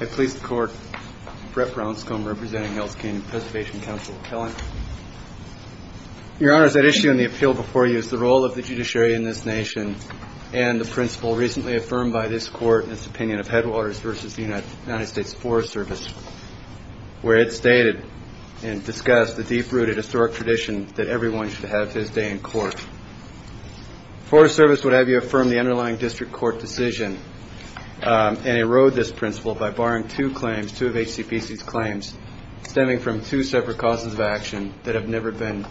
I please the court, Brett Brownscomb representing Hells Canyon Preservation Council, Kellen. Your honors, at issue in the appeal before you is the role of the judiciary in this nation and the principle recently affirmed by this court in its opinion of Headwaters v. United States Forest Service, where it stated and discussed the deep-rooted historic tradition that everyone should have to this day in court. Forest Service would have you affirm the underlying district court decision and erode this principle by barring two claims, two of HCPC's claims, stemming from two separate causes of action that have never been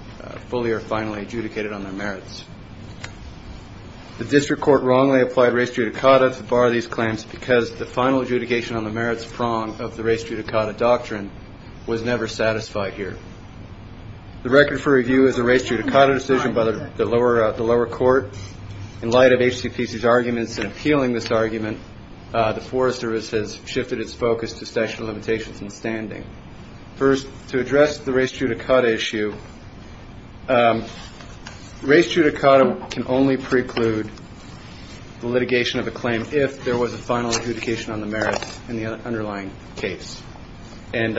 fully or finally adjudicated on their merits. The district court wrongly applied res judicata to bar these claims because the final adjudication on the merits prong of the res judicata doctrine was never satisfied here. The record for review is the res judicata decision by the lower court. In light of HCPC's arguments in appealing this argument, the Forest Service has shifted its focus to statute of limitations and standing. First, to address the res judicata issue, res judicata can only preclude the litigation of a claim if there was a final adjudication on the merits in the underlying case. And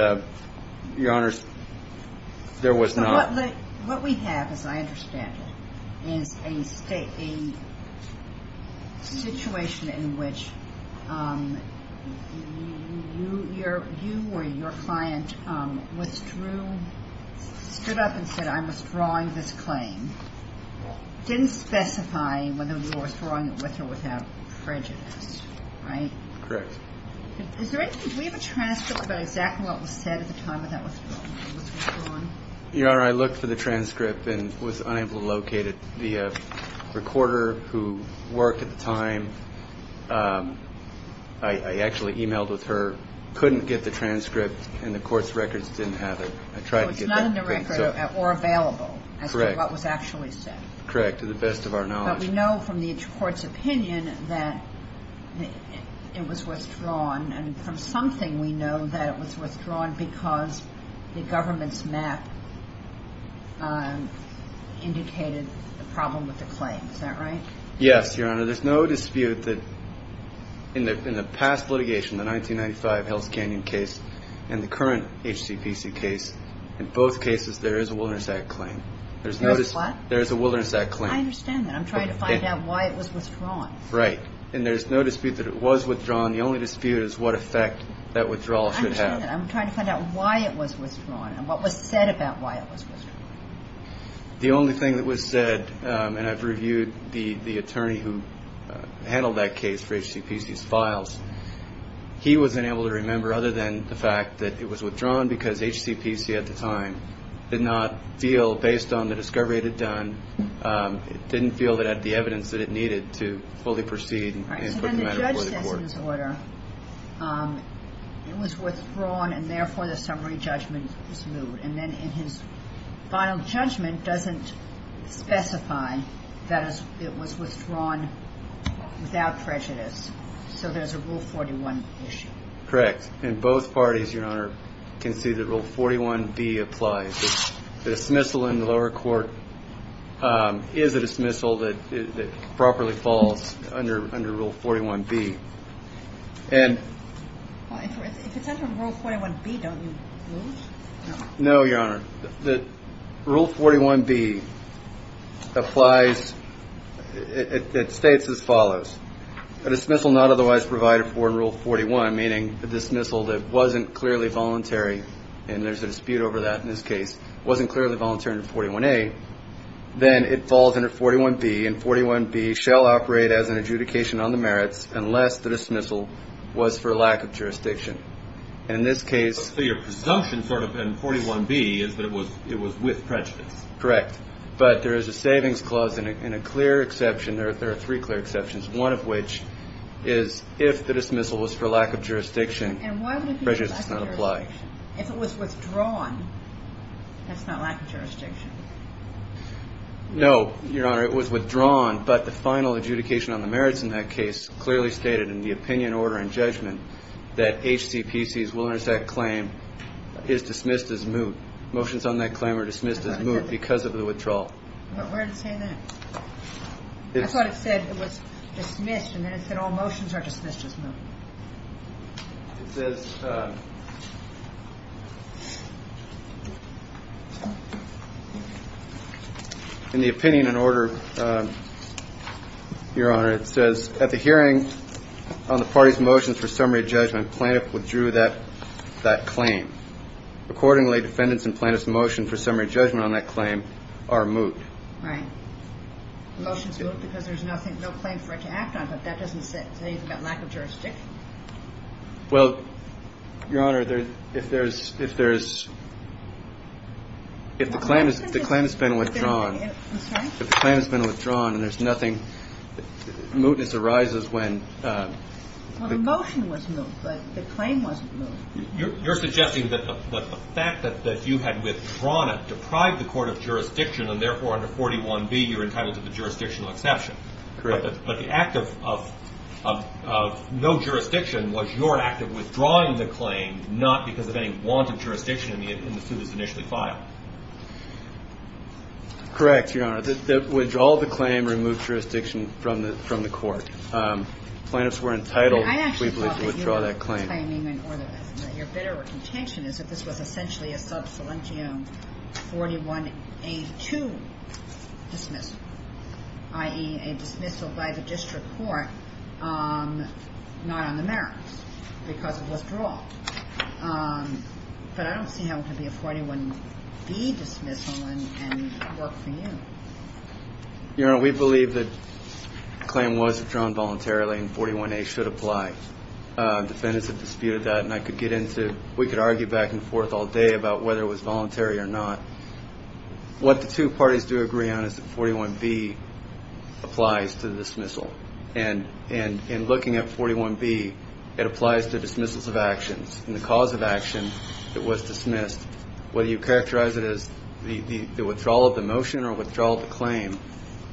your honors, there was not. What we have, as I understand it, is a situation in which you or your client stood up and said, I'm withdrawing this claim. Didn't specify whether you were withdrawing it with or without prejudice, right? Correct. Is there anything, do we have a transcript about exactly what was said at the time of that withdrawal? Your honor, I looked for the transcript and was unable to locate it. The recorder who worked at the time, I actually emailed with her, couldn't get the transcript and the court's records didn't have it. I tried to get that. It's not in the record or available as to what was actually said. Correct. To the best of our knowledge. But we know from the court's opinion that it was withdrawn and from something we know that it was withdrawn because the government's map indicated the problem with the claim. Is that right? Yes, your honor. There's no dispute that in the past litigation, the 1995 Hell's Canyon case and the current HCPC case, in both cases there is a Wilderness Act claim. There's no dispute. There's what? There's a Wilderness Act claim. I understand that. I'm trying to find out why it was withdrawn. Right. And there's no dispute that it was withdrawn. The only dispute is what effect that withdrawal should have. I understand that. I'm trying to find out why it was withdrawn and what was said about why it was withdrawn. The only thing that was said, and I've reviewed the attorney who handled that case for HCPC's files, he was unable to remember other than the fact that it was withdrawn because HCPC at the time did not feel, based on the discovery it had done, it didn't feel it had the evidence to do with the court. He says in his order, it was withdrawn and therefore the summary judgment was moved. And then in his final judgment doesn't specify that it was withdrawn without prejudice. So there's a Rule 41 issue. Correct. And both parties, your honor, can see that Rule 41B applies. The dismissal in the lower court is a dismissal that properly falls under Rule 41B. If it's under Rule 41B, don't you lose? No, your honor. Rule 41B applies. It states as follows. A dismissal not otherwise provided for in Rule 41, meaning a dismissal that wasn't clearly voluntary, and there's a dispute over that in this case, wasn't clearly voluntary under 41A, then it falls under 41B and 41B shall operate as an adjudication on the merits unless the dismissal was for lack of jurisdiction. So your presumption sort of in 41B is that it was with prejudice. Correct. But there is a savings clause and a clear exception. There are three clear exceptions, one of which is if the dismissal was for lack of jurisdiction, prejudice does not apply. If it was withdrawn, that's not lack of jurisdiction. No, your honor, it was withdrawn, but the final adjudication on the merits in that case clearly stated in the opinion, order, and judgment that HCPC's will intersect claim is dismissed as moot. Motions on that claim are dismissed as moot because of the withdrawal. But where does it say that? I thought it said it was dismissed, and then it said all motions are dismissed as moot. It says in the opinion and order, your honor, it says at the hearing on the party's motions for summary judgment, plaintiff withdrew that claim. Accordingly, defendants in plaintiff's motion for summary judgment on that claim are moot. Right. Motions are moot because there's no claim for it to act on, but that doesn't say anything about lack of jurisdiction. Well, your honor, if there's ‑‑ if the claim has been withdrawn. I'm sorry? If the claim has been withdrawn and there's nothing ‑‑ mootness arises when ‑‑ Well, the motion was moot, but the claim wasn't moot. You're suggesting that the fact that you had withdrawn it deprived the court of jurisdiction and therefore under 41B you're entitled to the jurisdictional exception. Correct. But the act of no jurisdiction was your act of withdrawing the claim, not because of any wanted jurisdiction in the suit that's initially filed. Correct, your honor. The withdrawal of the claim removed jurisdiction from the court. Plaintiffs were entitled, we believe, to withdraw that claim. I actually thought that you were claiming in order. Your better contention is that this was essentially a sub salientium 41A2 dismissal, i.e., a dismissal by the district court not on the merits because of withdrawal. But I don't see how it could be a 41B dismissal and work for you. Your honor, we believe that the claim was withdrawn voluntarily and 41A should apply. Defendants have disputed that and I could get into ‑‑ we could argue back and forth all day about whether it was voluntary or not. What the two parties do agree on is that 41B applies to the dismissal. And in looking at 41B, it applies to dismissals of actions. In the cause of action, it was dismissed. Whether you characterize it as the withdrawal of the motion or withdrawal of the claim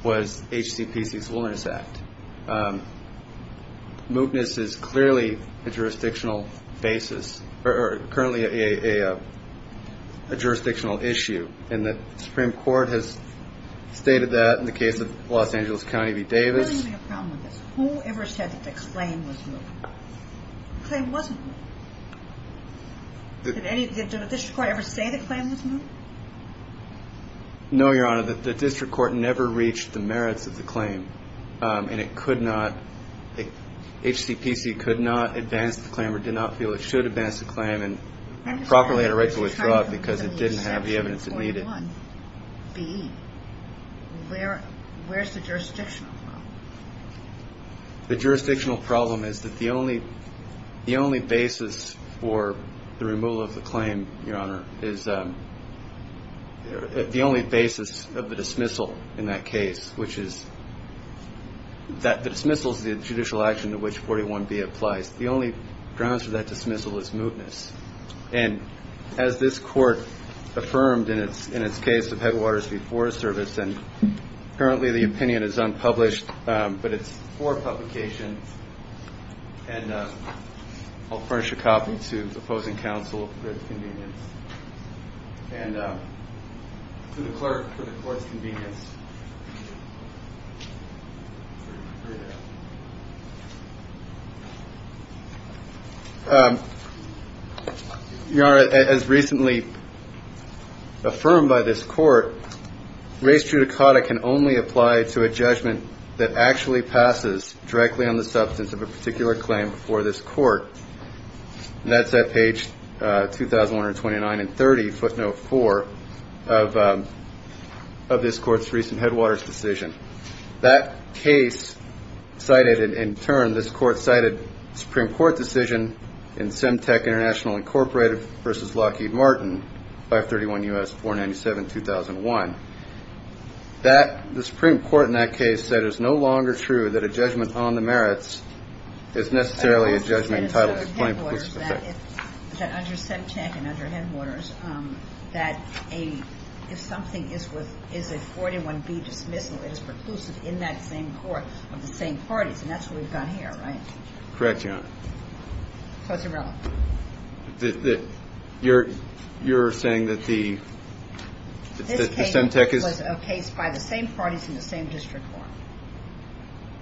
was HCPC's Willingness Act. Mootness is clearly a jurisdictional basis or currently a jurisdictional issue. And the Supreme Court has stated that in the case of Los Angeles County v. Davis. I'm having a problem with this. Who ever said that the claim was moot? The claim wasn't moot. Did the district court ever say the claim was moot? No, your honor, the district court never reached the merits of the claim. And it could not, HCPC could not advance the claim or did not feel it should advance the claim and properly had a right to withdraw it because it didn't have the evidence it needed. Where is the jurisdictional problem? The jurisdictional problem is that the only basis for the removal of the claim, your honor, is the only basis of the dismissal in that case, which is that the dismissal is the judicial action to which 41B applies. The only grounds for that dismissal is mootness. And as this court affirmed in its case of Headwaters v. Forest Service, and currently the opinion is unpublished, but it's for publication. And I'll furnish a copy to the opposing counsel for its convenience. And to the clerk for the court's convenience. Your honor, as recently affirmed by this court, race judicata can only apply to a judgment that actually passes directly on the substance of a particular claim before this court. And that's at page 2,129 and 30, footnote 4 of this court's recent Headwaters decision. That case cited in turn, this court cited Supreme Court decision in Semtec International Incorporated v. Lockheed Martin, 531 U.S. 497-2001. The Supreme Court in that case said it is no longer true that a judgment on the merits is necessarily a judgment entitled to plain preclusive effect. That under Semtec and under Headwaters, that if something is a 41B dismissal, it is preclusive in that same court of the same parties. And that's what we've got here, right? Correct, your honor. So it's irrelevant. You're saying that the Semtec is a case by the same parties in the same district court?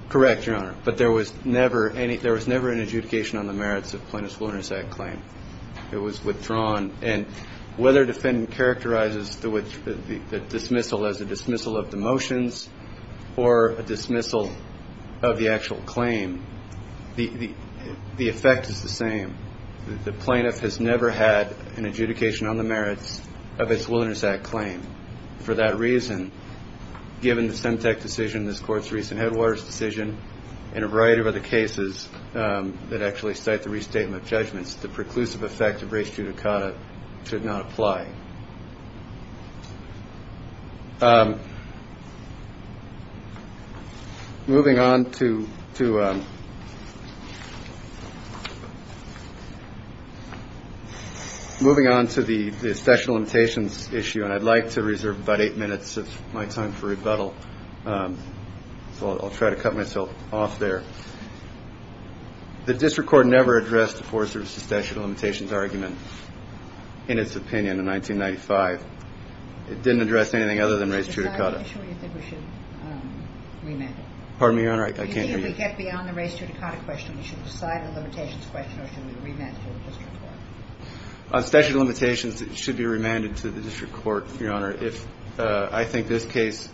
Correct, your honor. But there was never an adjudication on the merits of plaintiff's willingness act claim. It was withdrawn. And whether defendant characterizes the dismissal as a dismissal of the motions or a dismissal of the actual claim, the effect is the same. The plaintiff has never had an adjudication on the merits of its willingness act claim. For that reason, given the Semtec decision, this court's recent Headwaters decision, and a variety of other cases that actually cite the restatement of judgments, the preclusive effect of res judicata should not apply. Moving on to the statute of limitations issue, and I'd like to reserve about eight minutes of my time for rebuttal, so I'll try to cut myself off there. The district court never addressed the Forest Service's statute of limitations argument, in its opinion, in 1995. It didn't address anything other than res judicata. Pardon me, your honor, I can't hear you. On statute of limitations, it should be remanded to the district court, your honor. I think this case,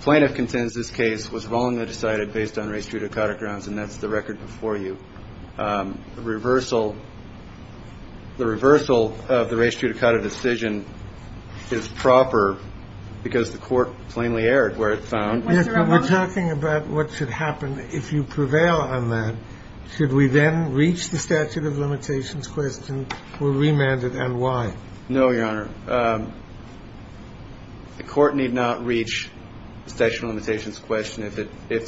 plaintiff contends this case was wrongly decided based on res judicata grounds, and that's the record before you. I think that's the record. The court should not be remanded as a bylaw. I think the court should find the reversal of the res judicata decision is proper because the court plainly erred where it found... But we're talking about what should happen. If you prevail on that, should we then reach the statute of limitations question, or remand it, and why? No, Your Honor. The court need not reach the statute of limitations question if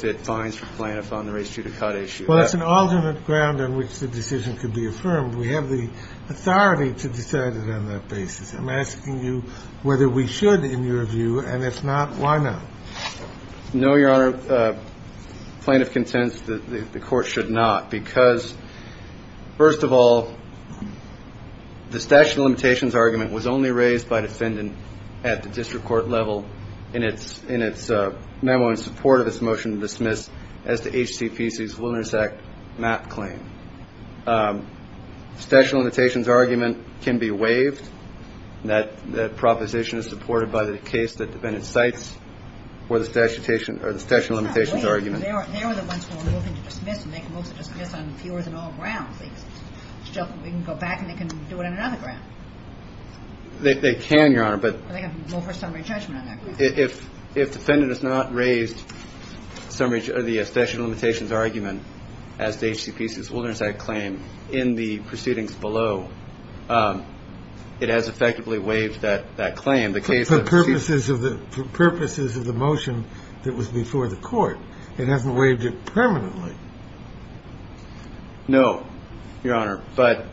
it finds for plaintiff on the res judicata issue. Well, that's an alternate ground on which the decision could be affirmed. We have the authority to decide it on that basis. I'm asking you whether we should, in your view, and if not, why not? No, Your Honor. Plaintiff contends that the court should not because, first of all, the statute of limitations argument was only raised by defendant at the district court level in its memo in support of its motion to dismiss as to HCPC's Wilderness Act MAP claim. The statute of limitations argument can be waived. That proposition is supported by the case that the defendant cites for the statute of limitations argument. They are the ones who are moving to dismiss, and they can move to dismiss on fewer than all grounds. They can go back, and they can do it on another ground. They can, Your Honor, but they have no first summary judgment on that. If defendant has not raised the statute of limitations argument as to HCPC's Wilderness Act claim in the proceedings below, it has effectively waived that claim. In the case of Cedars- For purposes of the motion that was before the court, it hasn't waived it permanently. No, Your Honor, but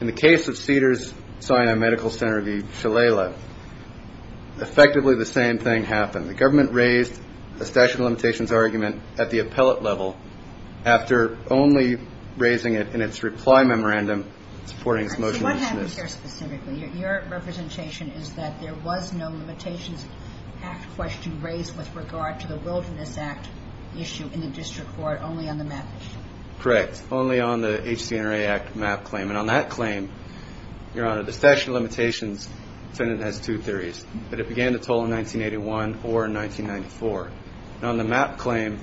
in the case of Cedars-Sinai Medical Center v. Shalala, effectively the same thing happened. The government raised the statute of limitations argument at the appellate level after only raising it in its reply memorandum supporting its motion to dismiss. What happens here specifically? Your representation is that there was no limitations act question raised with regard to the Wilderness Act issue in the district court, only on the map issue. Correct. Only on the HCNRA Act map claim. And on that claim, Your Honor, the statute of limitations defendant has two theories, that it began to toll in 1981 or in 1994. On the map claim,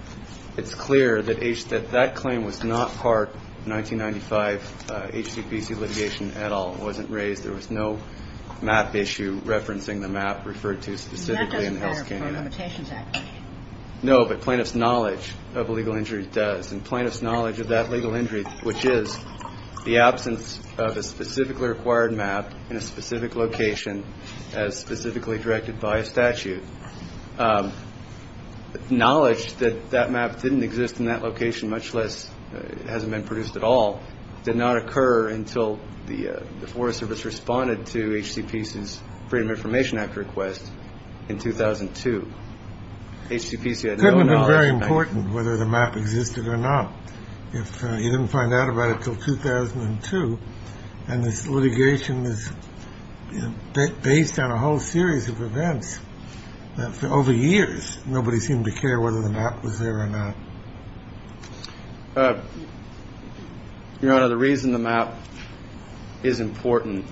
it's clear that that claim was not part 1995 HCPC litigation at all. It wasn't raised. There was no map issue referencing the map referred to specifically in the Health Care Act. No, but plaintiff's knowledge of a legal injury does. And plaintiff's knowledge of that legal injury, which is the absence of a specifically required map in a specific location as specifically directed by a statute. Knowledge that that map didn't exist in that location, much less it hasn't been produced at all, did not occur until the Forest Service responded to HCPC's Freedom Information Act request in 2002. HCPC had no knowledge. That would be very important, whether the map existed or not. If you didn't find out about it until 2002 and this litigation is based on a whole series of events, over years, nobody seemed to care whether the map was there or not. Your Honor, the reason the map is important,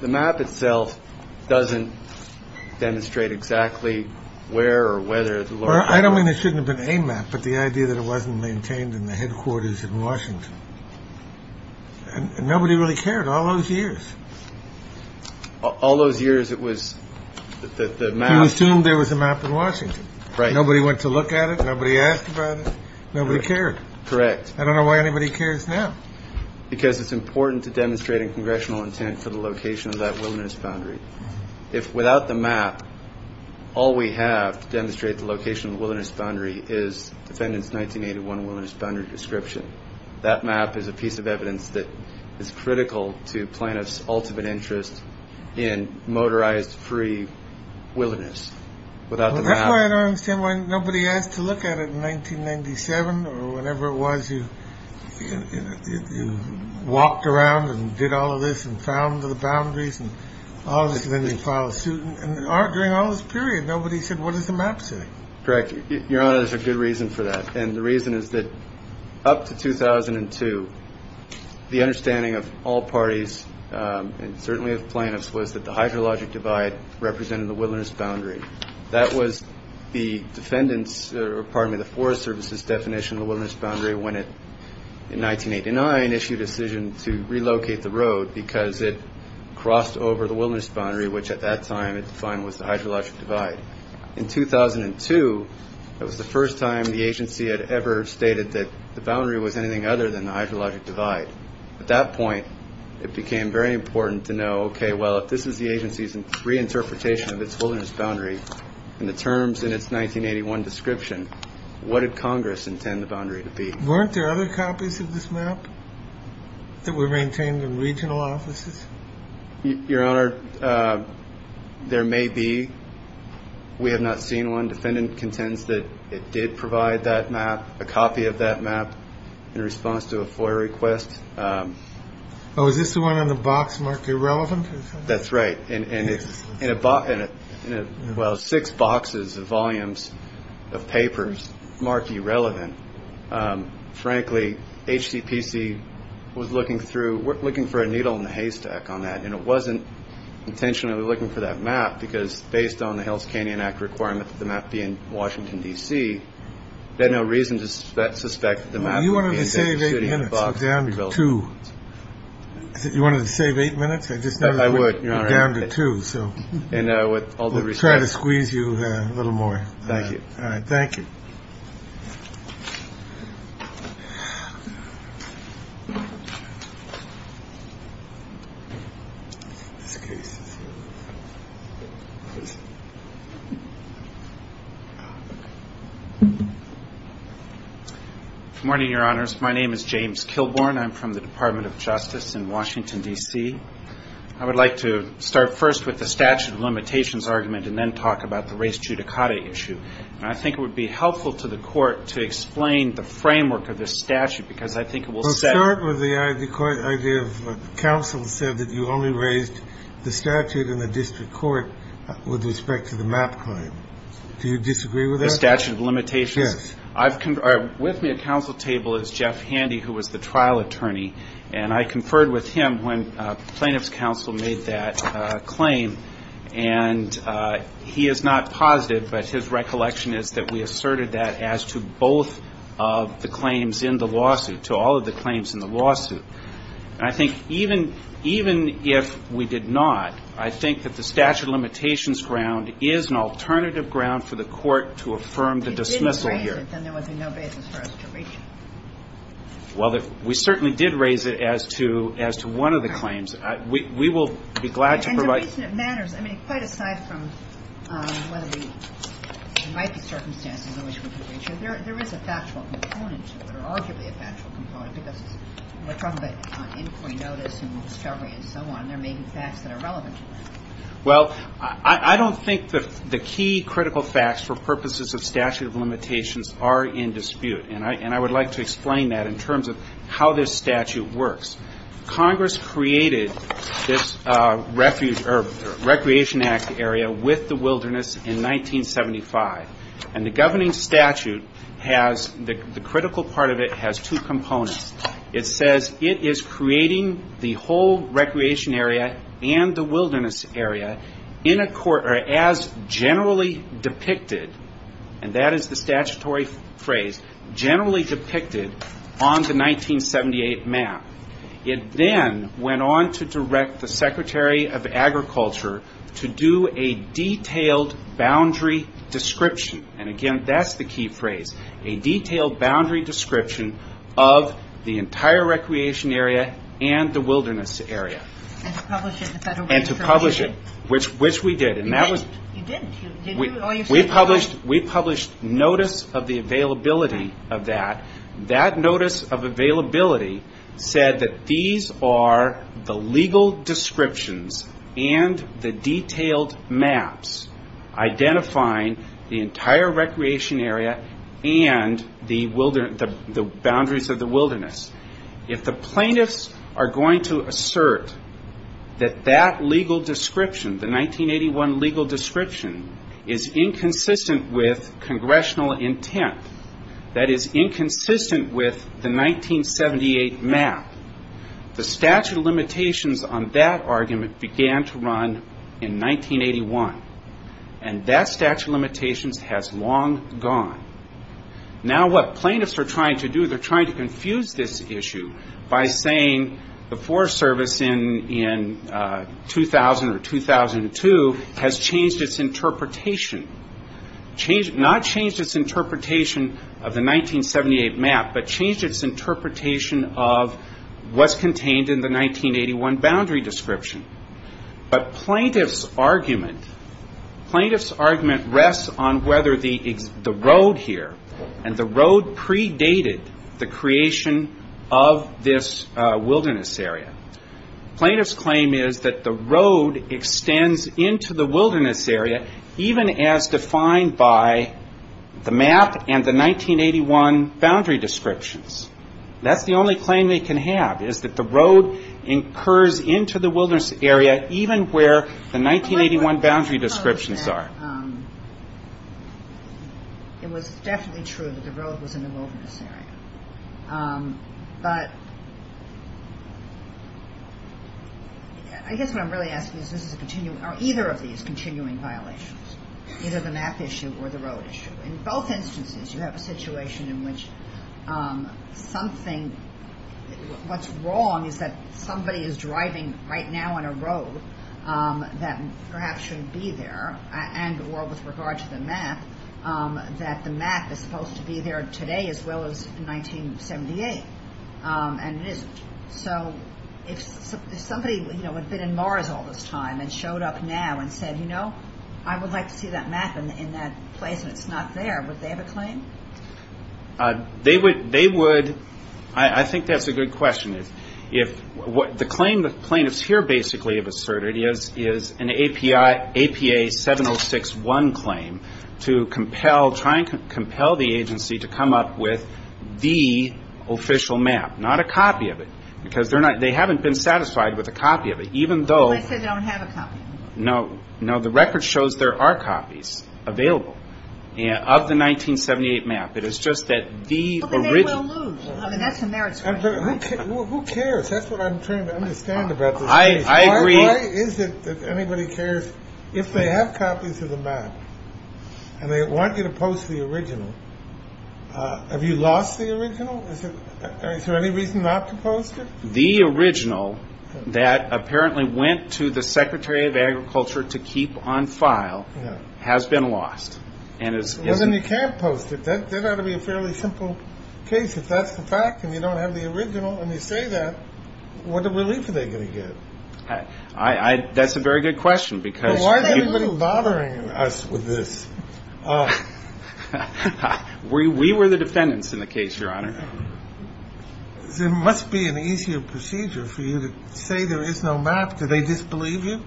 the map itself doesn't demonstrate exactly where or whether. I don't mean it shouldn't have been a map, but the idea that it wasn't maintained in the headquarters in Washington. And nobody really cared all those years. All those years it was that the map. You assumed there was a map in Washington. Right. Nobody went to look at it. Nobody asked about it. Nobody cared. Correct. I don't know why anybody cares now. Because it's important to demonstrate a congressional intent for the location of that wilderness boundary. If without the map, all we have to demonstrate the location of the wilderness boundary is defendant's 1981 wilderness boundary description, that map is a piece of evidence that is critical to plaintiff's ultimate interest in motorized free wilderness. Without the map. That's why I don't understand why nobody asked to look at it in 1997 or whenever it was. You walked around and did all of this and found the boundaries. And all of a sudden you file a suit. And during all this period, nobody said, what does the map say? Correct. Your Honor, there's a good reason for that. And the reason is that up to 2002, the understanding of all parties, and certainly of plaintiffs, was that the hydrologic divide represented the wilderness boundary. That was the forest service's definition of the wilderness boundary when it, in 1989, issued a decision to relocate the road because it crossed over the wilderness boundary, which at that time it defined was the hydrologic divide. In 2002, that was the first time the agency had ever stated that the boundary was anything other than the hydrologic divide. At that point, it became very important to know, OK, well, if this is the agency's reinterpretation of its wilderness boundary and the terms in its 1981 description, what did Congress intend the boundary to be? Weren't there other copies of this map that were maintained in regional offices? Your Honor, there may be. We have not seen one. Defendant contends that it did provide that map, a copy of that map, in response to a FOIA request. Oh, is this the one on the box marked irrelevant? That's right. And it's in a box, well, six boxes of volumes of papers marked irrelevant. Frankly, HCPC was looking through, looking for a needle in the haystack on that, and it wasn't intentionally looking for that map because, based on the Hills Canyon Act requirement that the map be in Washington, D.C., they had no reason to suspect that the map would be in that shitty box. You wanted to save eight minutes. I'll down to two. You wanted to save eight minutes? I just never would. I would, Your Honor. I'll down to two. And with all due respect. We'll try to squeeze you a little more. Thank you. All right, thank you. Good morning, Your Honors. My name is James Kilborn. I'm from the Department of Justice in Washington, D.C. I would like to start first with the statute of limitations argument and then talk about the race judicata issue. And I think it would be helpful to the Court to explain the framework of this statute because I think it will set. Well, start with the idea of counsel said that you only raised the statute in the district court with respect to the map claim. Do you disagree with that? The statute of limitations? Yes. With me at counsel table is Jeff Handy, who was the trial attorney, and I conferred with him when plaintiff's counsel made that claim. And he is not positive, but his recollection is that we asserted that as to both of the claims in the lawsuit, to all of the claims in the lawsuit. And I think even if we did not, I think that the statute of limitations ground is an alternative ground for the Court to affirm the dismissal here. If you didn't raise it, then there was no basis for us to reach it. Well, we certainly did raise it as to one of the claims. We will be glad to provide. The reason it matters, I mean, quite aside from whether there might be circumstances in which we could reach it, there is a factual component to it, or arguably a factual component, because we're talking about inquiry notice and discovery and so on. There may be facts that are relevant to that. Well, I don't think the key critical facts for purposes of statute of limitations are in dispute. And I would like to explain that in terms of how this statute works. Congress created this Recreation Act area with the wilderness in 1975. And the governing statute has, the critical part of it has two components. It says it is creating the whole recreation area and the wilderness area in a court, or as generally depicted, and that is the statutory phrase, generally depicted on the 1978 map. It then went on to direct the Secretary of Agriculture to do a detailed boundary description. And again, that's the key phrase, a detailed boundary description of the entire recreation area and the wilderness area. And to publish it, which we did. You didn't. We published notice of the availability of that. That notice of availability said that these are the legal descriptions and the detailed maps identifying the entire recreation area and the boundaries of the wilderness. If the plaintiffs are going to assert that that legal description, the 1981 legal description, is inconsistent with congressional intent, that is inconsistent with the 1978 map, the statute of limitations on that argument began to run in 1981. And that statute of limitations has long gone. Now what plaintiffs are trying to do, they're trying to confuse this issue by saying the Forest Service in 2000 or 2002 has changed its interpretation, not changed its interpretation of the 1978 map, but changed its interpretation of what's contained in the 1981 boundary description. But plaintiff's argument, plaintiff's argument rests on whether the road here and the road predated the creation of this wilderness area. Plaintiff's claim is that the road extends into the wilderness area, even as defined by the map and the 1981 boundary descriptions. That's the only claim they can have is that the road incurs into the wilderness area even where the 1981 boundary descriptions are. It was definitely true that the road was in the wilderness area. But I guess what I'm really asking is this is a continuing, or either of these continuing violations, either the map issue or the road issue. In both instances you have a situation in which something, what's wrong is that somebody is driving right now on a road that perhaps shouldn't be there, and or with regard to the map, that the map is supposed to be there today as well as in 1978, and it isn't. So if somebody had been in Mars all this time and showed up now and said, you know, I would like to see that map in that place and it's not there, would they have a claim? They would. I think that's a good question. The claim the plaintiffs here basically have asserted is an APA 7061 claim to try and compel the agency to come up with the official map, not a copy of it, because they haven't been satisfied with a copy of it, even though. Unless they don't have a copy. No, no, the record shows there are copies available of the 1978 map. It is just that the original. Who cares? That's what I'm trying to understand about this case. Why is it that anybody cares if they have copies of the map and they want you to post the original? Have you lost the original? Is there any reason not to post it? The original that apparently went to the secretary of agriculture to keep on file has been lost. Well, then you can't post it. That ought to be a fairly simple case. If that's the fact and you don't have the original and you say that, what relief are they going to get? That's a very good question. Why is everybody bothering us with this? We were the defendants in the case, Your Honor. There must be an easier procedure for you to say there is no map. Do they disbelieve you?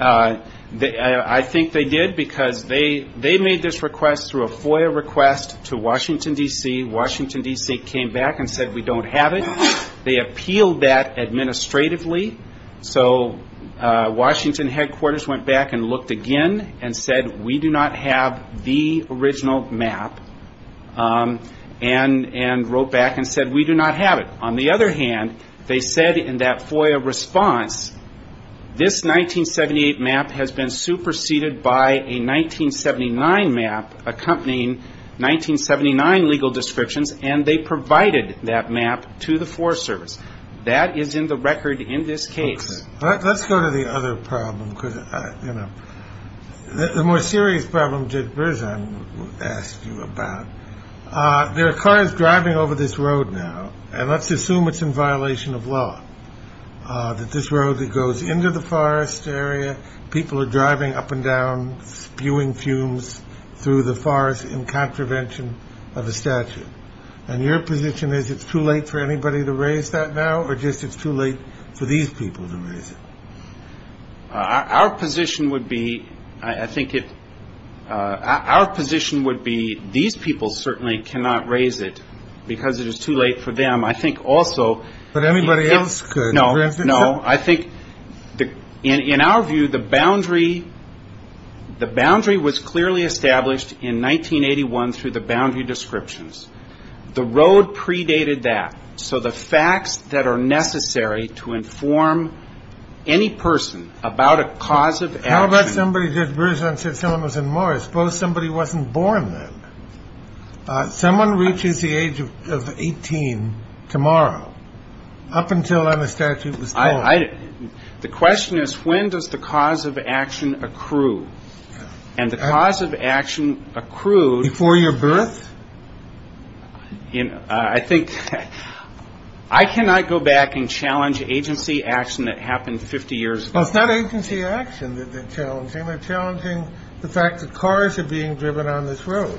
I think they did because they made this request through a FOIA request to Washington, D.C. Washington, D.C. came back and said we don't have it. They appealed that administratively. So Washington headquarters went back and looked again and said we do not have the original map. And wrote back and said we do not have it. On the other hand, they said in that FOIA response, this 1978 map has been superseded by a 1979 map accompanying 1979 legal descriptions, and they provided that map to the Forest Service. That is in the record in this case. Let's go to the other problem. The more serious problem, Judge Brzezin asked you about. There are cars driving over this road now, and let's assume it's in violation of law. That this road that goes into the forest area, people are driving up and down, spewing fumes through the forest in contravention of a statute. And your position is it's too late for anybody to raise that now, or just it's too late for these people to raise it? Our position would be, I think it our position would be, these people certainly cannot raise it because it is too late for them. I think also. In our view, the boundary was clearly established in 1981 through the boundary descriptions. The road predated that. So the facts that are necessary to inform any person about a cause of action. How about somebody, Judge Brzezin said someone was in Morris. I suppose somebody wasn't born then. Someone reaches the age of 18 tomorrow. Up until then, the statute was. The question is, when does the cause of action accrue? And the cause of action accrued. Before your birth? I cannot go back and challenge agency action that happened 50 years ago. It's not agency action that they're challenging. They're challenging the fact that cars are being driven on this road.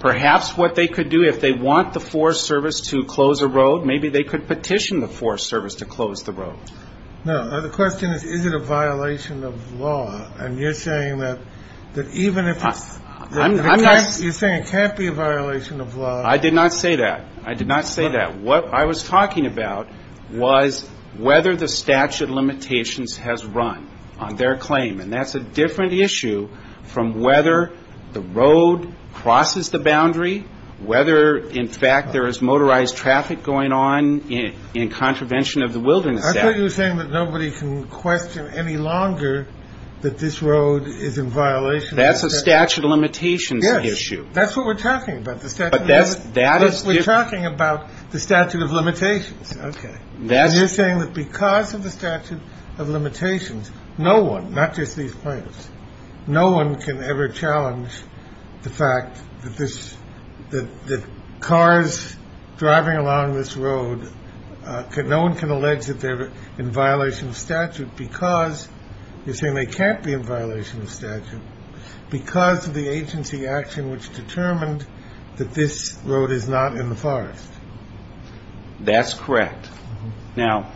Perhaps what they could do if they want the Forest Service to close a road, maybe they could petition the Forest Service to close the road. The question is, is it a violation of law? You're saying it can't be a violation of law. I did not say that. I did not say that. What I was talking about was whether the statute of limitations has run on their claim. And that's a different issue from whether the road crosses the boundary, whether, in fact, there is motorized traffic going on in contravention of the Wilderness Act. I thought you were saying that nobody can question any longer that this road is in violation. That's a statute of limitations issue. That's what we're talking about. We're talking about the statute of limitations. You're saying that because of the statute of limitations, no one, not just these plaintiffs, no one can ever challenge the fact that cars driving along this road, no one can allege that they're in violation of statute because, you're saying they can't be in violation of statute because of the agency action which determined that this road is not in the forest. That's correct. Now,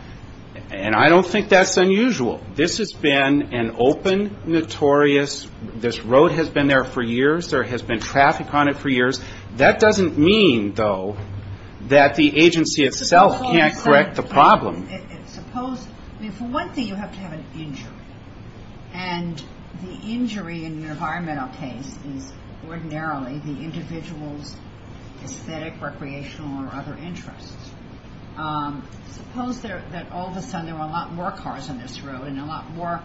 and I don't think that's unusual. This has been an open, notorious, this road has been there for years, there has been traffic on it for years. That doesn't mean, though, that the agency itself can't correct the problem. Suppose, I mean, for one thing, you have to have an injury. And the injury in an environmental case is ordinarily the individual's aesthetic, recreational, or other interests. Suppose that all of a sudden there were a lot more cars on this road and a lot more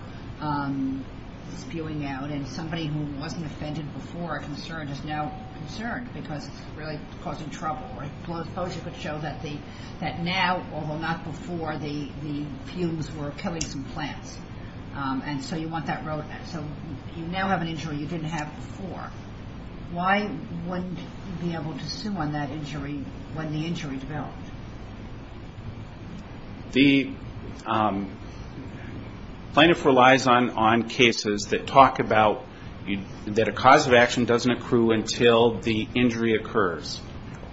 spewing out than somebody who wasn't offended before or concerned is now concerned because it's really causing trouble. Suppose you could show that now, although not before, the fumes were killing some plants. And so you want that road, so you now have an injury you didn't have before. Why wouldn't you be able to sue on that injury when the injury developed? The plaintiff relies on cases that talk about that a cause of action doesn't accrue until the injury occurs.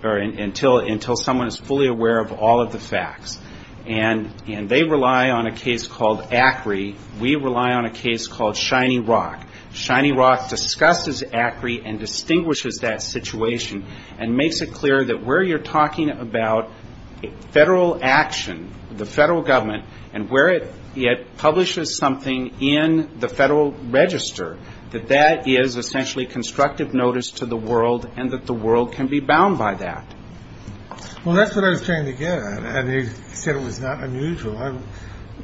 Or until someone is fully aware of all of the facts. And they rely on a case called ACRI. We rely on a case called Shiny Rock. Shiny Rock discusses ACRI and distinguishes that situation and makes it clear that where you're talking about federal action, the federal government, and where it publishes something in the federal register, that that is essentially constructive notice to the world and that the world can be bound by that. Well, that's what I was trying to get at. And he said it was not unusual. I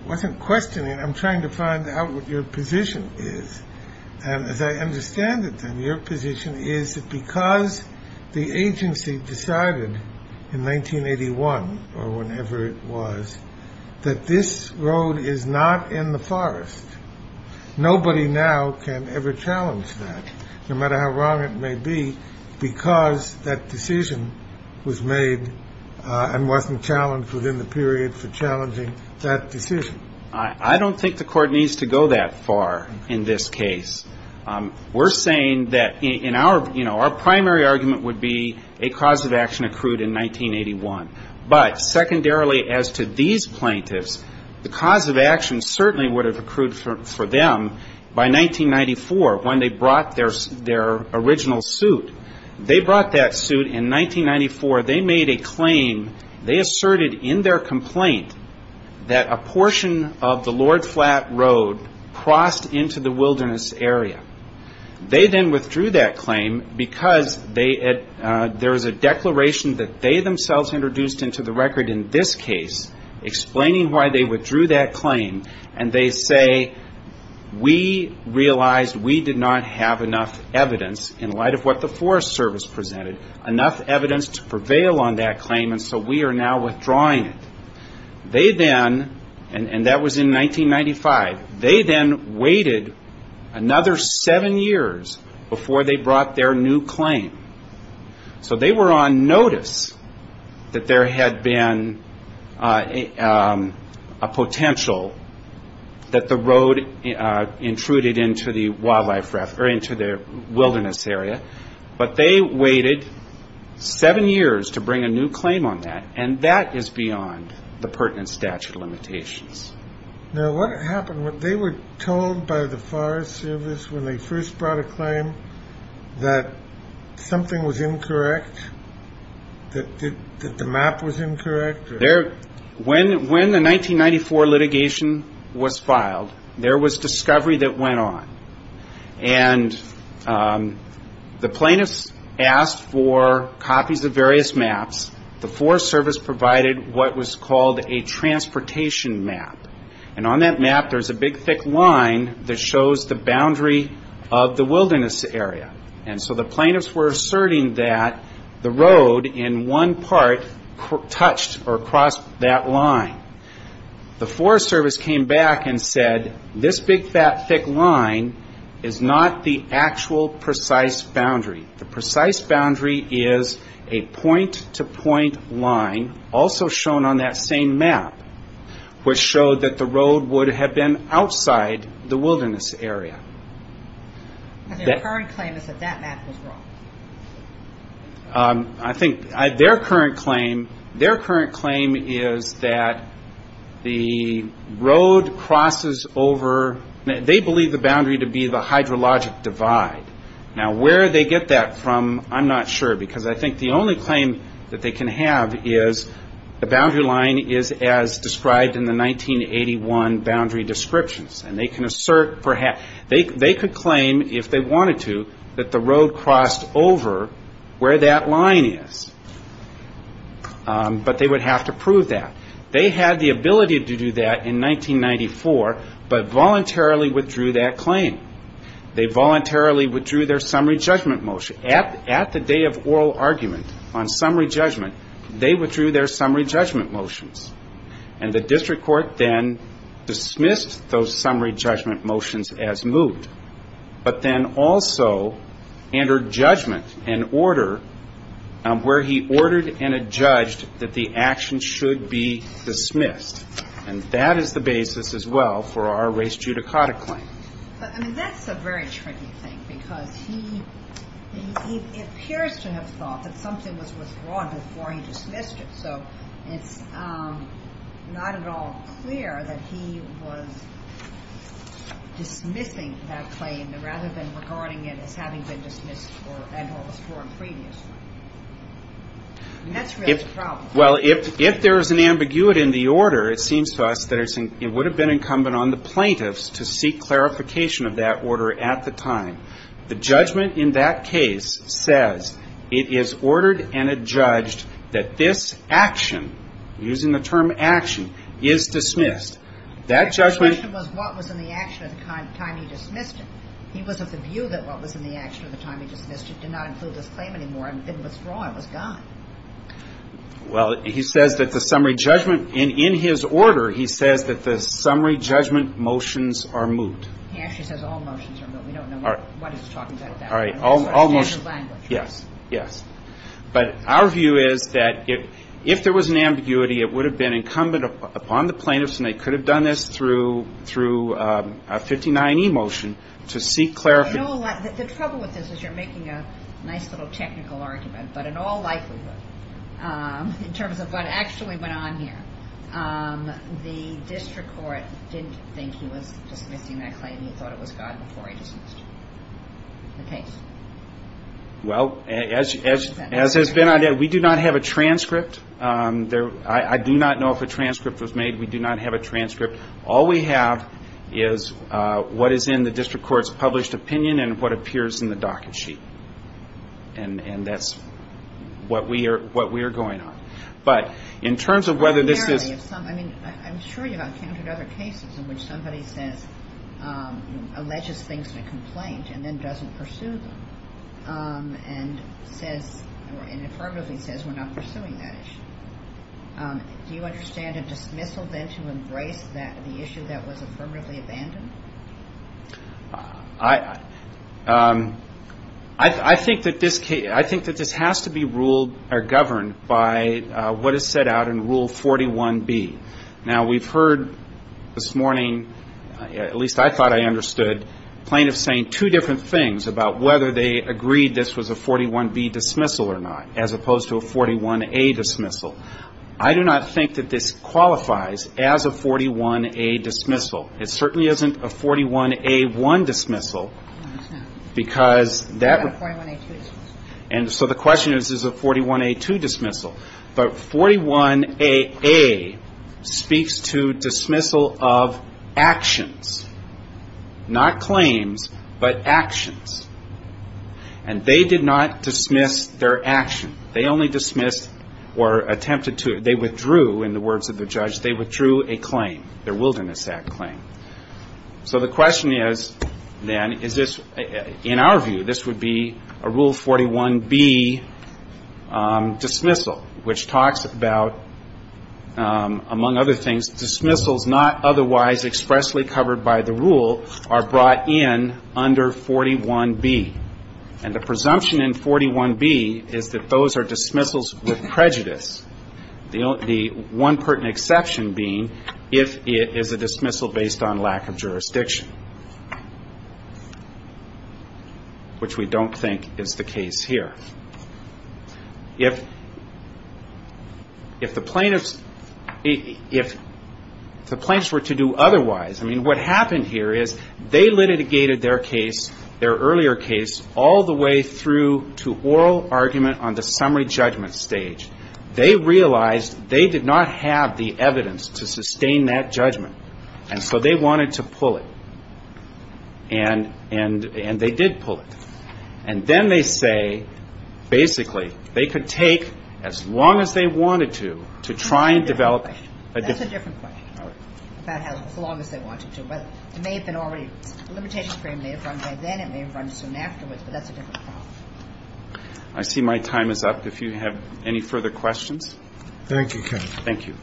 wasn't questioning. I'm trying to find out what your position is. And as I understand it, then, your position is that because the agency decided in 1981 or whenever it was that this road is not in the forest, nobody now can ever challenge that, no matter how wrong it may be, because it's within the period for challenging that decision. I don't think the Court needs to go that far in this case. We're saying that in our you know, our primary argument would be a cause of action accrued in 1981. But secondarily as to these plaintiffs, the cause of action certainly would have accrued for them by 1994 when they brought their original suit. They brought that suit in 1994. They made a claim. They asserted in their complaint that a portion of the Lord Flat Road crossed into the wilderness area. They then withdrew that claim because there is a declaration that they themselves introduced into the record in this case explaining why they withdrew that claim. And they say, we realized we did not have enough evidence in light of what the Forest Service presented, enough evidence to prevail on that claim, and so we are now withdrawing it. They then, and that was in 1995, they then waited another seven years before they brought their new claim. So they were on notice that there had been a potential for a claim. That the road intruded into the wildlife, or into the wilderness area. But they waited seven years to bring a new claim on that. And that is beyond the pertinent statute of limitations. Now what happened, they were told by the Forest Service when they first brought a claim that something was incorrect? That the map was incorrect? When the 1994 litigation was filed, there was discovery that went on. And the plaintiffs asked for copies of various maps. The Forest Service provided what was called a transportation map. And on that map there is a big thick line that shows the boundary of the wilderness area. And so the plaintiffs were asserting that the road in one part touched or crossed that line. The Forest Service came back and said this big fat thick line is not the actual precise boundary. The precise boundary is a point to point line also shown on that same map. Which showed that the road would have been outside the wilderness area. And their current claim is that that map was wrong? I think their current claim is that the road crosses over, they believe the boundary to be the hydrologic divide. Now where they get that from, I'm not sure. Because I think the only claim that they can have is the boundary line is as described in the 1981 boundary descriptions. And they can assert, they could claim if they wanted to that the road crossed over where that line is. But they would have to prove that. They had the ability to do that in 1994, but voluntarily withdrew that claim. They voluntarily withdrew their summary judgment motion. At the day of oral argument on summary judgment, they withdrew their summary judgment motions. And the district court then dismissed those summary judgment motions as moot. But then also entered judgment and order where he ordered and adjudged that the action should be dismissed. And that is the basis as well for our race judicata claim. That's a very tricky thing because he appears to have thought that something was withdrawn before he dismissed it. And it's not at all clear that he was dismissing that claim rather than regarding it as having been dismissed and or withdrawn previously. And that's really the problem. Well, if there is an ambiguity in the order, it seems to us that it would have been incumbent on the plaintiffs to seek clarification of that order at the time. The judgment in that case says it is ordered and adjudged that this action, using the term adjudication, using the term action, is dismissed. The question was what was in the action at the time he dismissed it. He was of the view that what was in the action at the time he dismissed it did not include this claim anymore. It was withdrawn. It was gone. Well, he says that the summary judgment in his order, he says that the summary judgment motions are moot. He actually says all motions are moot. All motions are moot. Yes, yes. But our view is that if there was an ambiguity, it would have been incumbent upon the plaintiffs and they could have done this through a 59E motion to seek clarification. The trouble with this is you're making a nice little technical argument. But in all likelihood, in terms of what actually went on here, the district court didn't think he was dismissing that claim. He thought it was gone before he dismissed the case. Well, as has been, we do not have a transcript. I do not know if a transcript was made. We do not have a transcript. All we have is what is in the district court's published opinion and what appears in the docket sheet. And that's what we are going on. But in terms of whether this is ‑‑ I mean, I'm sure you've encountered other cases in which somebody alleges things in a complaint and then doesn't pursue them. And says ‑‑ or affirmatively says we're not pursuing that issue. Do you understand a dismissal then to embrace the issue that was affirmatively abandoned? I think that this has to be ruled or governed by what is set out in Rule 41B. Now, we've heard this morning, at least I thought I understood, plaintiffs saying two different things about whether they agreed this was a 41B dismissal or not, as opposed to a 41A dismissal. I do not think that this qualifies as a 41A dismissal. It certainly isn't a 41A1 dismissal, because that ‑‑ And so the question is, is it a 41A2 dismissal? But 41AA speaks to dismissal of actions. Not claims, but actions. And they did not dismiss their action. They only dismissed or attempted to ‑‑ they withdrew, in the words of the judge, they withdrew a claim, their Wilderness Act claim. So the question is, then, is this ‑‑ in our view, this would be a Rule 41B dismissal, which talks about, among other things, dismissals not otherwise expressly covered by the rule are brought in under 41A1. And the presumption in 41B is that those are dismissals with prejudice. The one pertinent exception being if it is a dismissal based on lack of jurisdiction. Which we don't think is the case here. If the plaintiffs ‑‑ if the plaintiffs were to do otherwise, I mean, what happened here is they litigated their case, their earlier case, all the way through to oral argument on the summary judgment stage. They realized they did not have the evidence to sustain that judgment. And so they wanted to pull it. And they did pull it. And then they say, basically, they could take as long as they wanted to, to try and develop ‑‑ and then it may run soon afterwards. But that's a different problem. I see my time is up. If you have any further questions. Thank you. Thank you.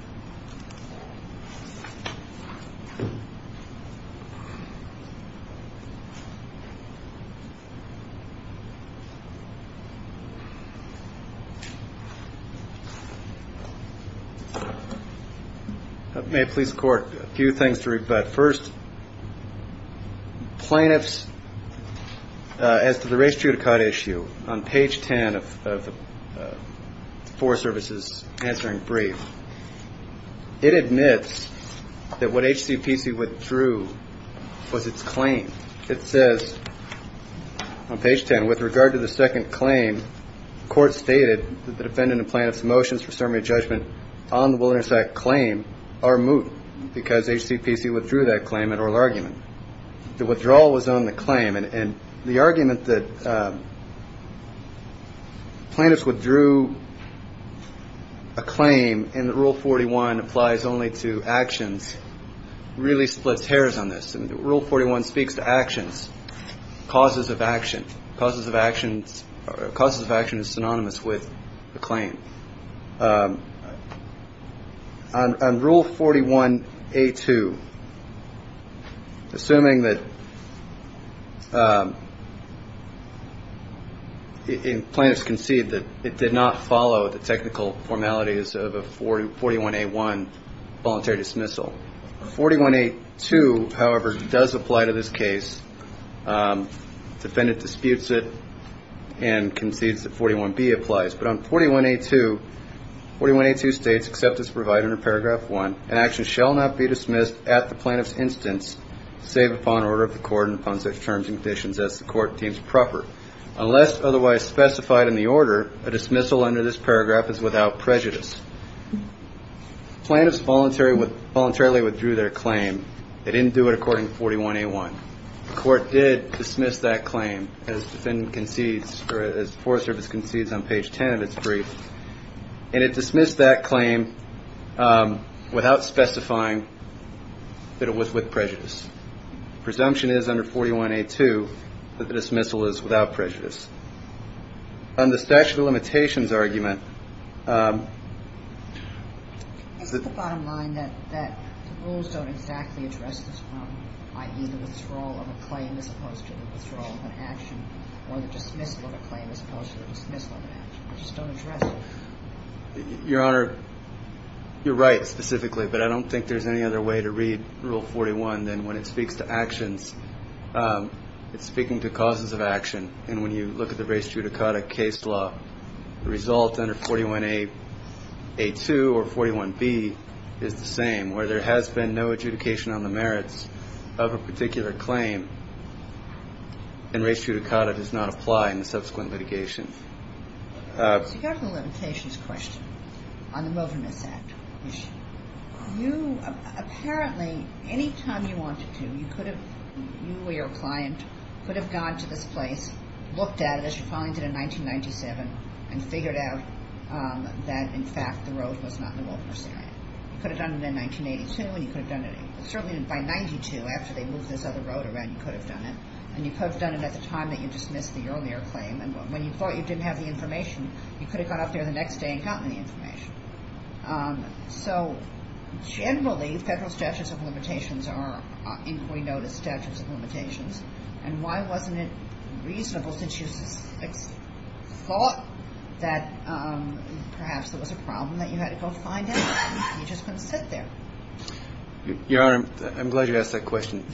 May I please court, a few things to rebut. First, plaintiffs, as to the race judicata issue, on page 10 of the four services answering brief, it admits that what H.C.P.C. withdrew was its claim. It says on page 10, with regard to the second claim, the court stated that the defendant and plaintiff's motions for summary judgment on the Wilderness Act claim are moot because H.C.P.C. withdrew that claim at oral argument. The withdrawal was on the claim. And the argument that plaintiffs withdrew a claim in the rule 41 applies only to actions really splits hairs on this. Rule 41 speaks to actions, causes of action. Causes of action is synonymous with a claim. On rule 41A2, assuming that H.C.P.C. withdrew a claim, plaintiffs concede that it did not follow the technical formalities of a 41A1 voluntary dismissal. 41A2, however, does apply to this case. Defendant disputes it and concedes that 41B applies. But on 41A2, 41A2 states, except as provided in paragraph one, an action shall not be dismissed at the plaintiff's instance, save upon order of the court and upon such terms and conditions as the court deems proper. Unless otherwise specified in the order, a dismissal under this paragraph is without prejudice. Plaintiffs voluntarily withdrew their claim. They didn't do it according to 41A1. The court did dismiss that claim, as the Forest Service concedes on page 10 of its brief. And it dismissed that claim without specifying that it was with prejudice. Presumption is under 41A2 that the dismissal is without prejudice. On the statute of limitations argument, it's at the bottom line that the rules don't exactly address this problem, i.e., the withdrawal of a claim as opposed to the withdrawal of an action, or the dismissal of a claim as opposed to the dismissal of an action. Your Honor, you're right, specifically. But I don't think there's any other way to read Rule 41 than when it speaks to actions. It's speaking to causes of action. And when you look at the race judicata case law, the result under 41A2 or 41B is the same, where there has been no adjudication on the merits of a particular claim. And race judicata does not apply in the subsequent litigation. So you have the limitations question on the Wilderness Act. Apparently, any time you wanted to, you could have, you or your client, could have gone to this place, looked at it as you're filing it in 1997, and figured out that, in fact, the road was not in the Wilderness Act. You could have done it in 1982, and you could have done it, certainly by 92, after they moved this other road around, you could have done it. And you could have done it at the time that you dismissed the earlier claim. And when you thought you didn't have the information, you could have gone up there the next day and gotten the information. So generally, federal statutes of limitations are inquiry notice statutes of limitations. And why wasn't it reasonable since you thought that perhaps there was a problem that you had to go find out, and you just couldn't sit there? Your Honor, I'm glad you asked that question.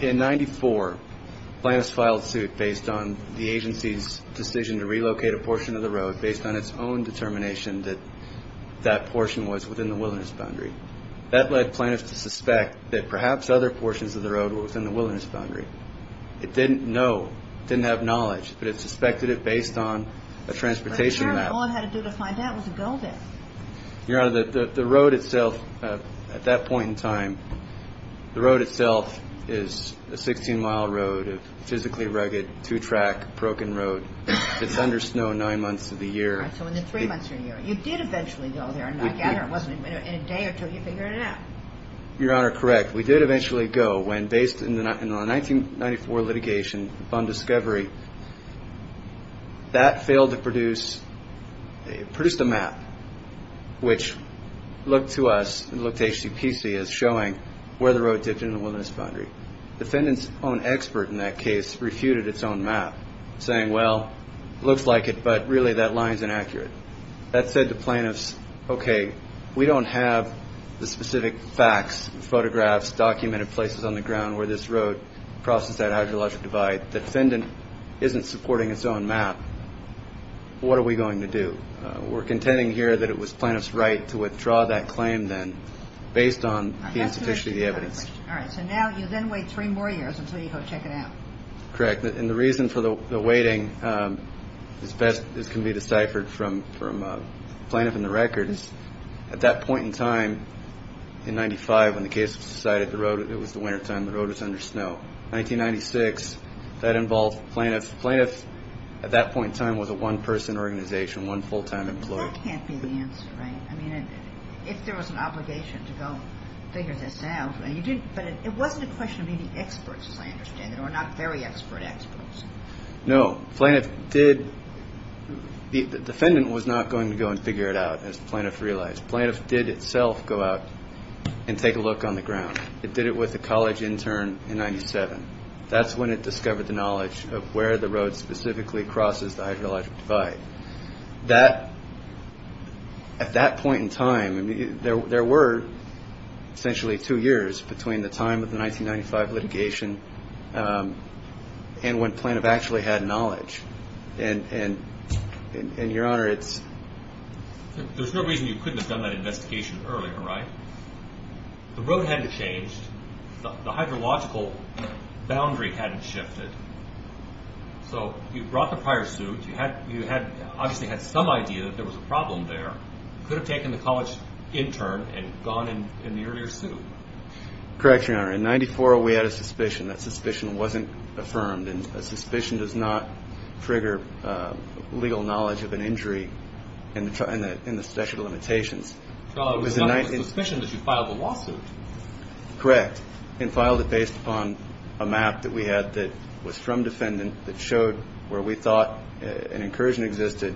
In 94, plaintiffs filed suit based on the agency's decision to relocate a portion of the road based on its own determination that that portion was within the wilderness boundary. That led plaintiffs to suspect that perhaps other portions of the road were within the wilderness boundary. It didn't know, didn't have knowledge, but it suspected it based on a transportation map. But, Your Honor, all it had to do to find out was to go there. Your Honor, the road itself, at that point in time, the road itself is a 16-mile road, a physically rugged, two-track, broken road. It's under snow nine months of the year. So in the three months of the year, you did eventually go there, and I gather it wasn't in a day or two you figured it out. Your Honor, correct. We did eventually go when, based on a 1994 litigation on discovery, that failed to produce a map, which looked to us, looked to HCPC as showing where the road did in the wilderness boundary. Defendant's own expert in that case refuted its own map, saying, well, looks like it, but really that line's inaccurate. That said to plaintiffs, okay, we don't have the specific facts, photographs, documented places on the ground where this road crosses that hydrologic divide. Defendant isn't supporting its own map. What are we going to do? We're contending here that it was plaintiff's right to withdraw that claim then, based on the insufficiency of the evidence. All right. So now you then wait three more years until you go check it out. Correct. And the reason for the waiting, as best as can be deciphered from plaintiff in the records, at that point in time, in 95, when the case was decided, it was the wintertime, the road was under snow. 1996, that involved plaintiffs. Plaintiffs at that point in time was a one-person organization, one full-time employee. That can't be the answer, right? I mean, if there was an obligation to go figure this out, but it wasn't a question of being experts, as I understand it, or not very expert experts. No. The defendant was not going to go and figure it out, as the plaintiff realized. Plaintiff did itself go out and take a look on the ground. It did it with a college intern in 97. That's when it discovered the knowledge of where the road specifically crosses the hydrologic divide. At that point in time, there were essentially two years between the time of the 1995 litigation and when plaintiff actually had knowledge. And, Your Honor, it's... The hydrological boundary hadn't shifted. You brought the prior suit. You obviously had some idea that there was a problem there. You could have taken the college intern and gone in the earlier suit. Correct, Your Honor. In 94, we had a suspicion. That suspicion wasn't affirmed. A suspicion does not trigger legal knowledge of an injury in the statute of limitations. Well, it was not a suspicion that you filed a lawsuit. Correct, and filed it based upon a map that we had that was from defendant that showed where we thought an incursion existed.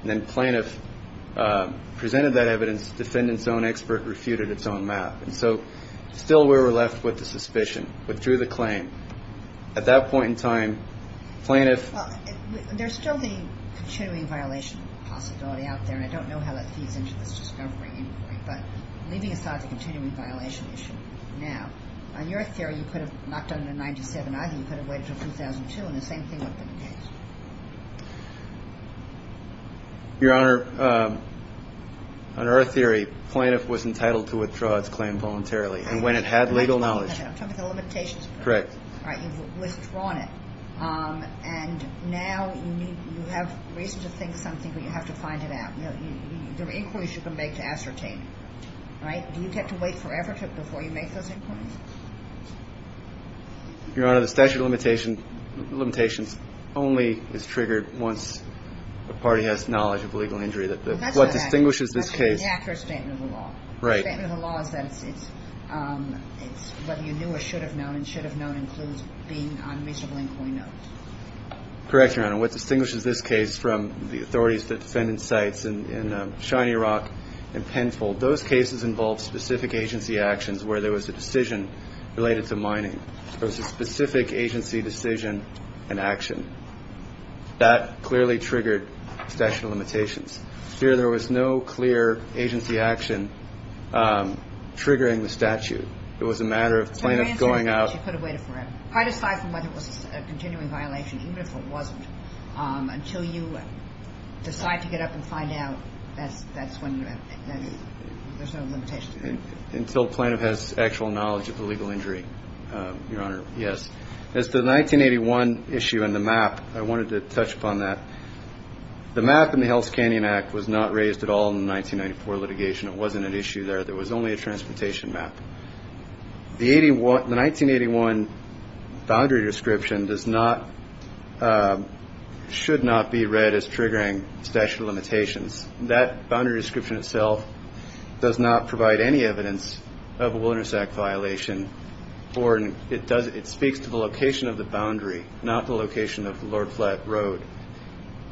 And then plaintiff presented that evidence. Defendant's own expert refuted its own map. And so still we were left with the suspicion, withdrew the claim. At that point in time, plaintiff... And when it had legal knowledge. Your Honor, the statute of limitations only is triggered once a party has knowledge of a legal injury. Whether you knew or should have known, and should have known, includes being on a reasonable employee note. Correct, Your Honor. What distinguishes this case from the authorities that defendant cites in Shiny Rock and Penfold, those cases involve specific agency actions where there was a decision related to mining. There was a specific agency decision and action. That clearly triggered statute of limitations. Here there was no clear agency action triggering the statute. It was a matter of plaintiff going out... Your Honor, yes. The map in the Hell's Canyon Act was not raised at all in the 1994 litigation. It wasn't an issue there. The 1981 boundary description should not be read as triggering statute of limitations. That boundary description itself does not provide any evidence of a wilderness act violation or it speaks to the location of the boundary, not the location of Lord Flat Road.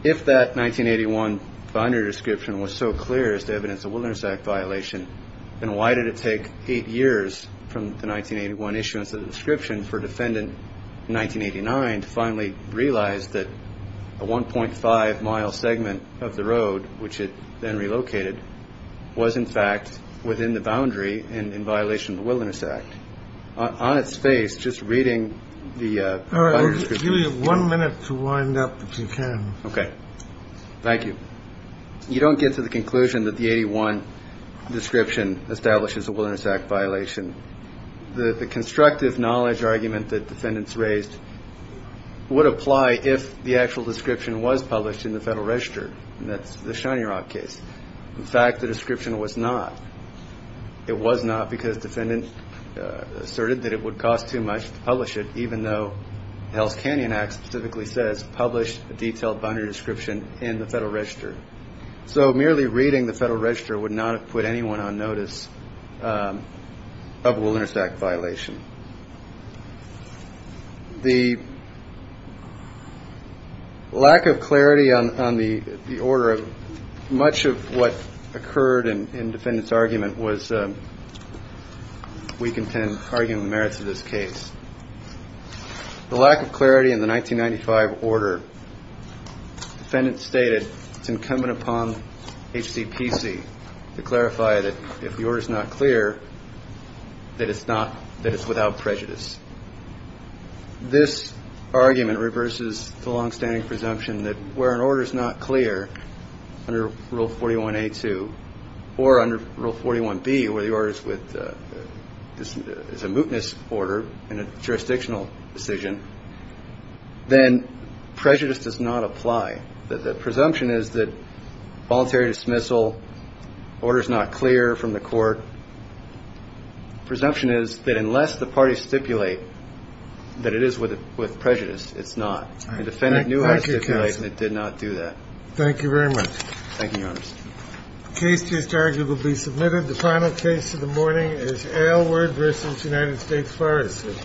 If that 1981 boundary description was so clear as to evidence a wilderness act violation, then why did it take eight years from the 1981 issuance of the description for defendant in 1989 to finally realize that a 1.5 mile segment of the road, which it then relocated, was in fact within the boundary and in violation of the Wilderness Act? On its face, just reading the... I'll give you one minute to wind up if you can. Okay. Thank you. You don't get to the conclusion that the 81 description establishes a wilderness act violation. The constructive knowledge argument that defendants raised would apply if the actual description was published in the Federal Register. That's the Shiny Rock case. In fact, the description was not. It was not because defendants asserted that it would cost too much to publish it, even though the Hell's Canyon Act specifically says publish a detailed boundary description in the Federal Register. So merely reading the Federal Register would not have put anyone on notice of a wilderness act violation. The lack of clarity on the order of much of what occurred in defendants' argument was, we contend, arguing the merits of this case. The lack of clarity in the 1995 order, defendants stated, it's incumbent upon H.C.P.C. to clarify that if the order is not clear, that it's without prejudice. This argument reverses the longstanding presumption that where an order is not clear, under Rule 41A.2, or under Rule 41B, where the order is a mootness order and a jurisdictional decision, then prejudice does not apply. The presumption is that voluntary dismissal, order is not clear from the court, presumption is that unless the parties stipulate that it is with prejudice, it's not. The defendant knew how to stipulate, and it did not do that. Thank you very much. Thank you, Your Honor. The case to be argued will be submitted. The final case of the morning is Aylward v. United States Forest Service. Thank you, Your Honor. Thank you, Your Honor.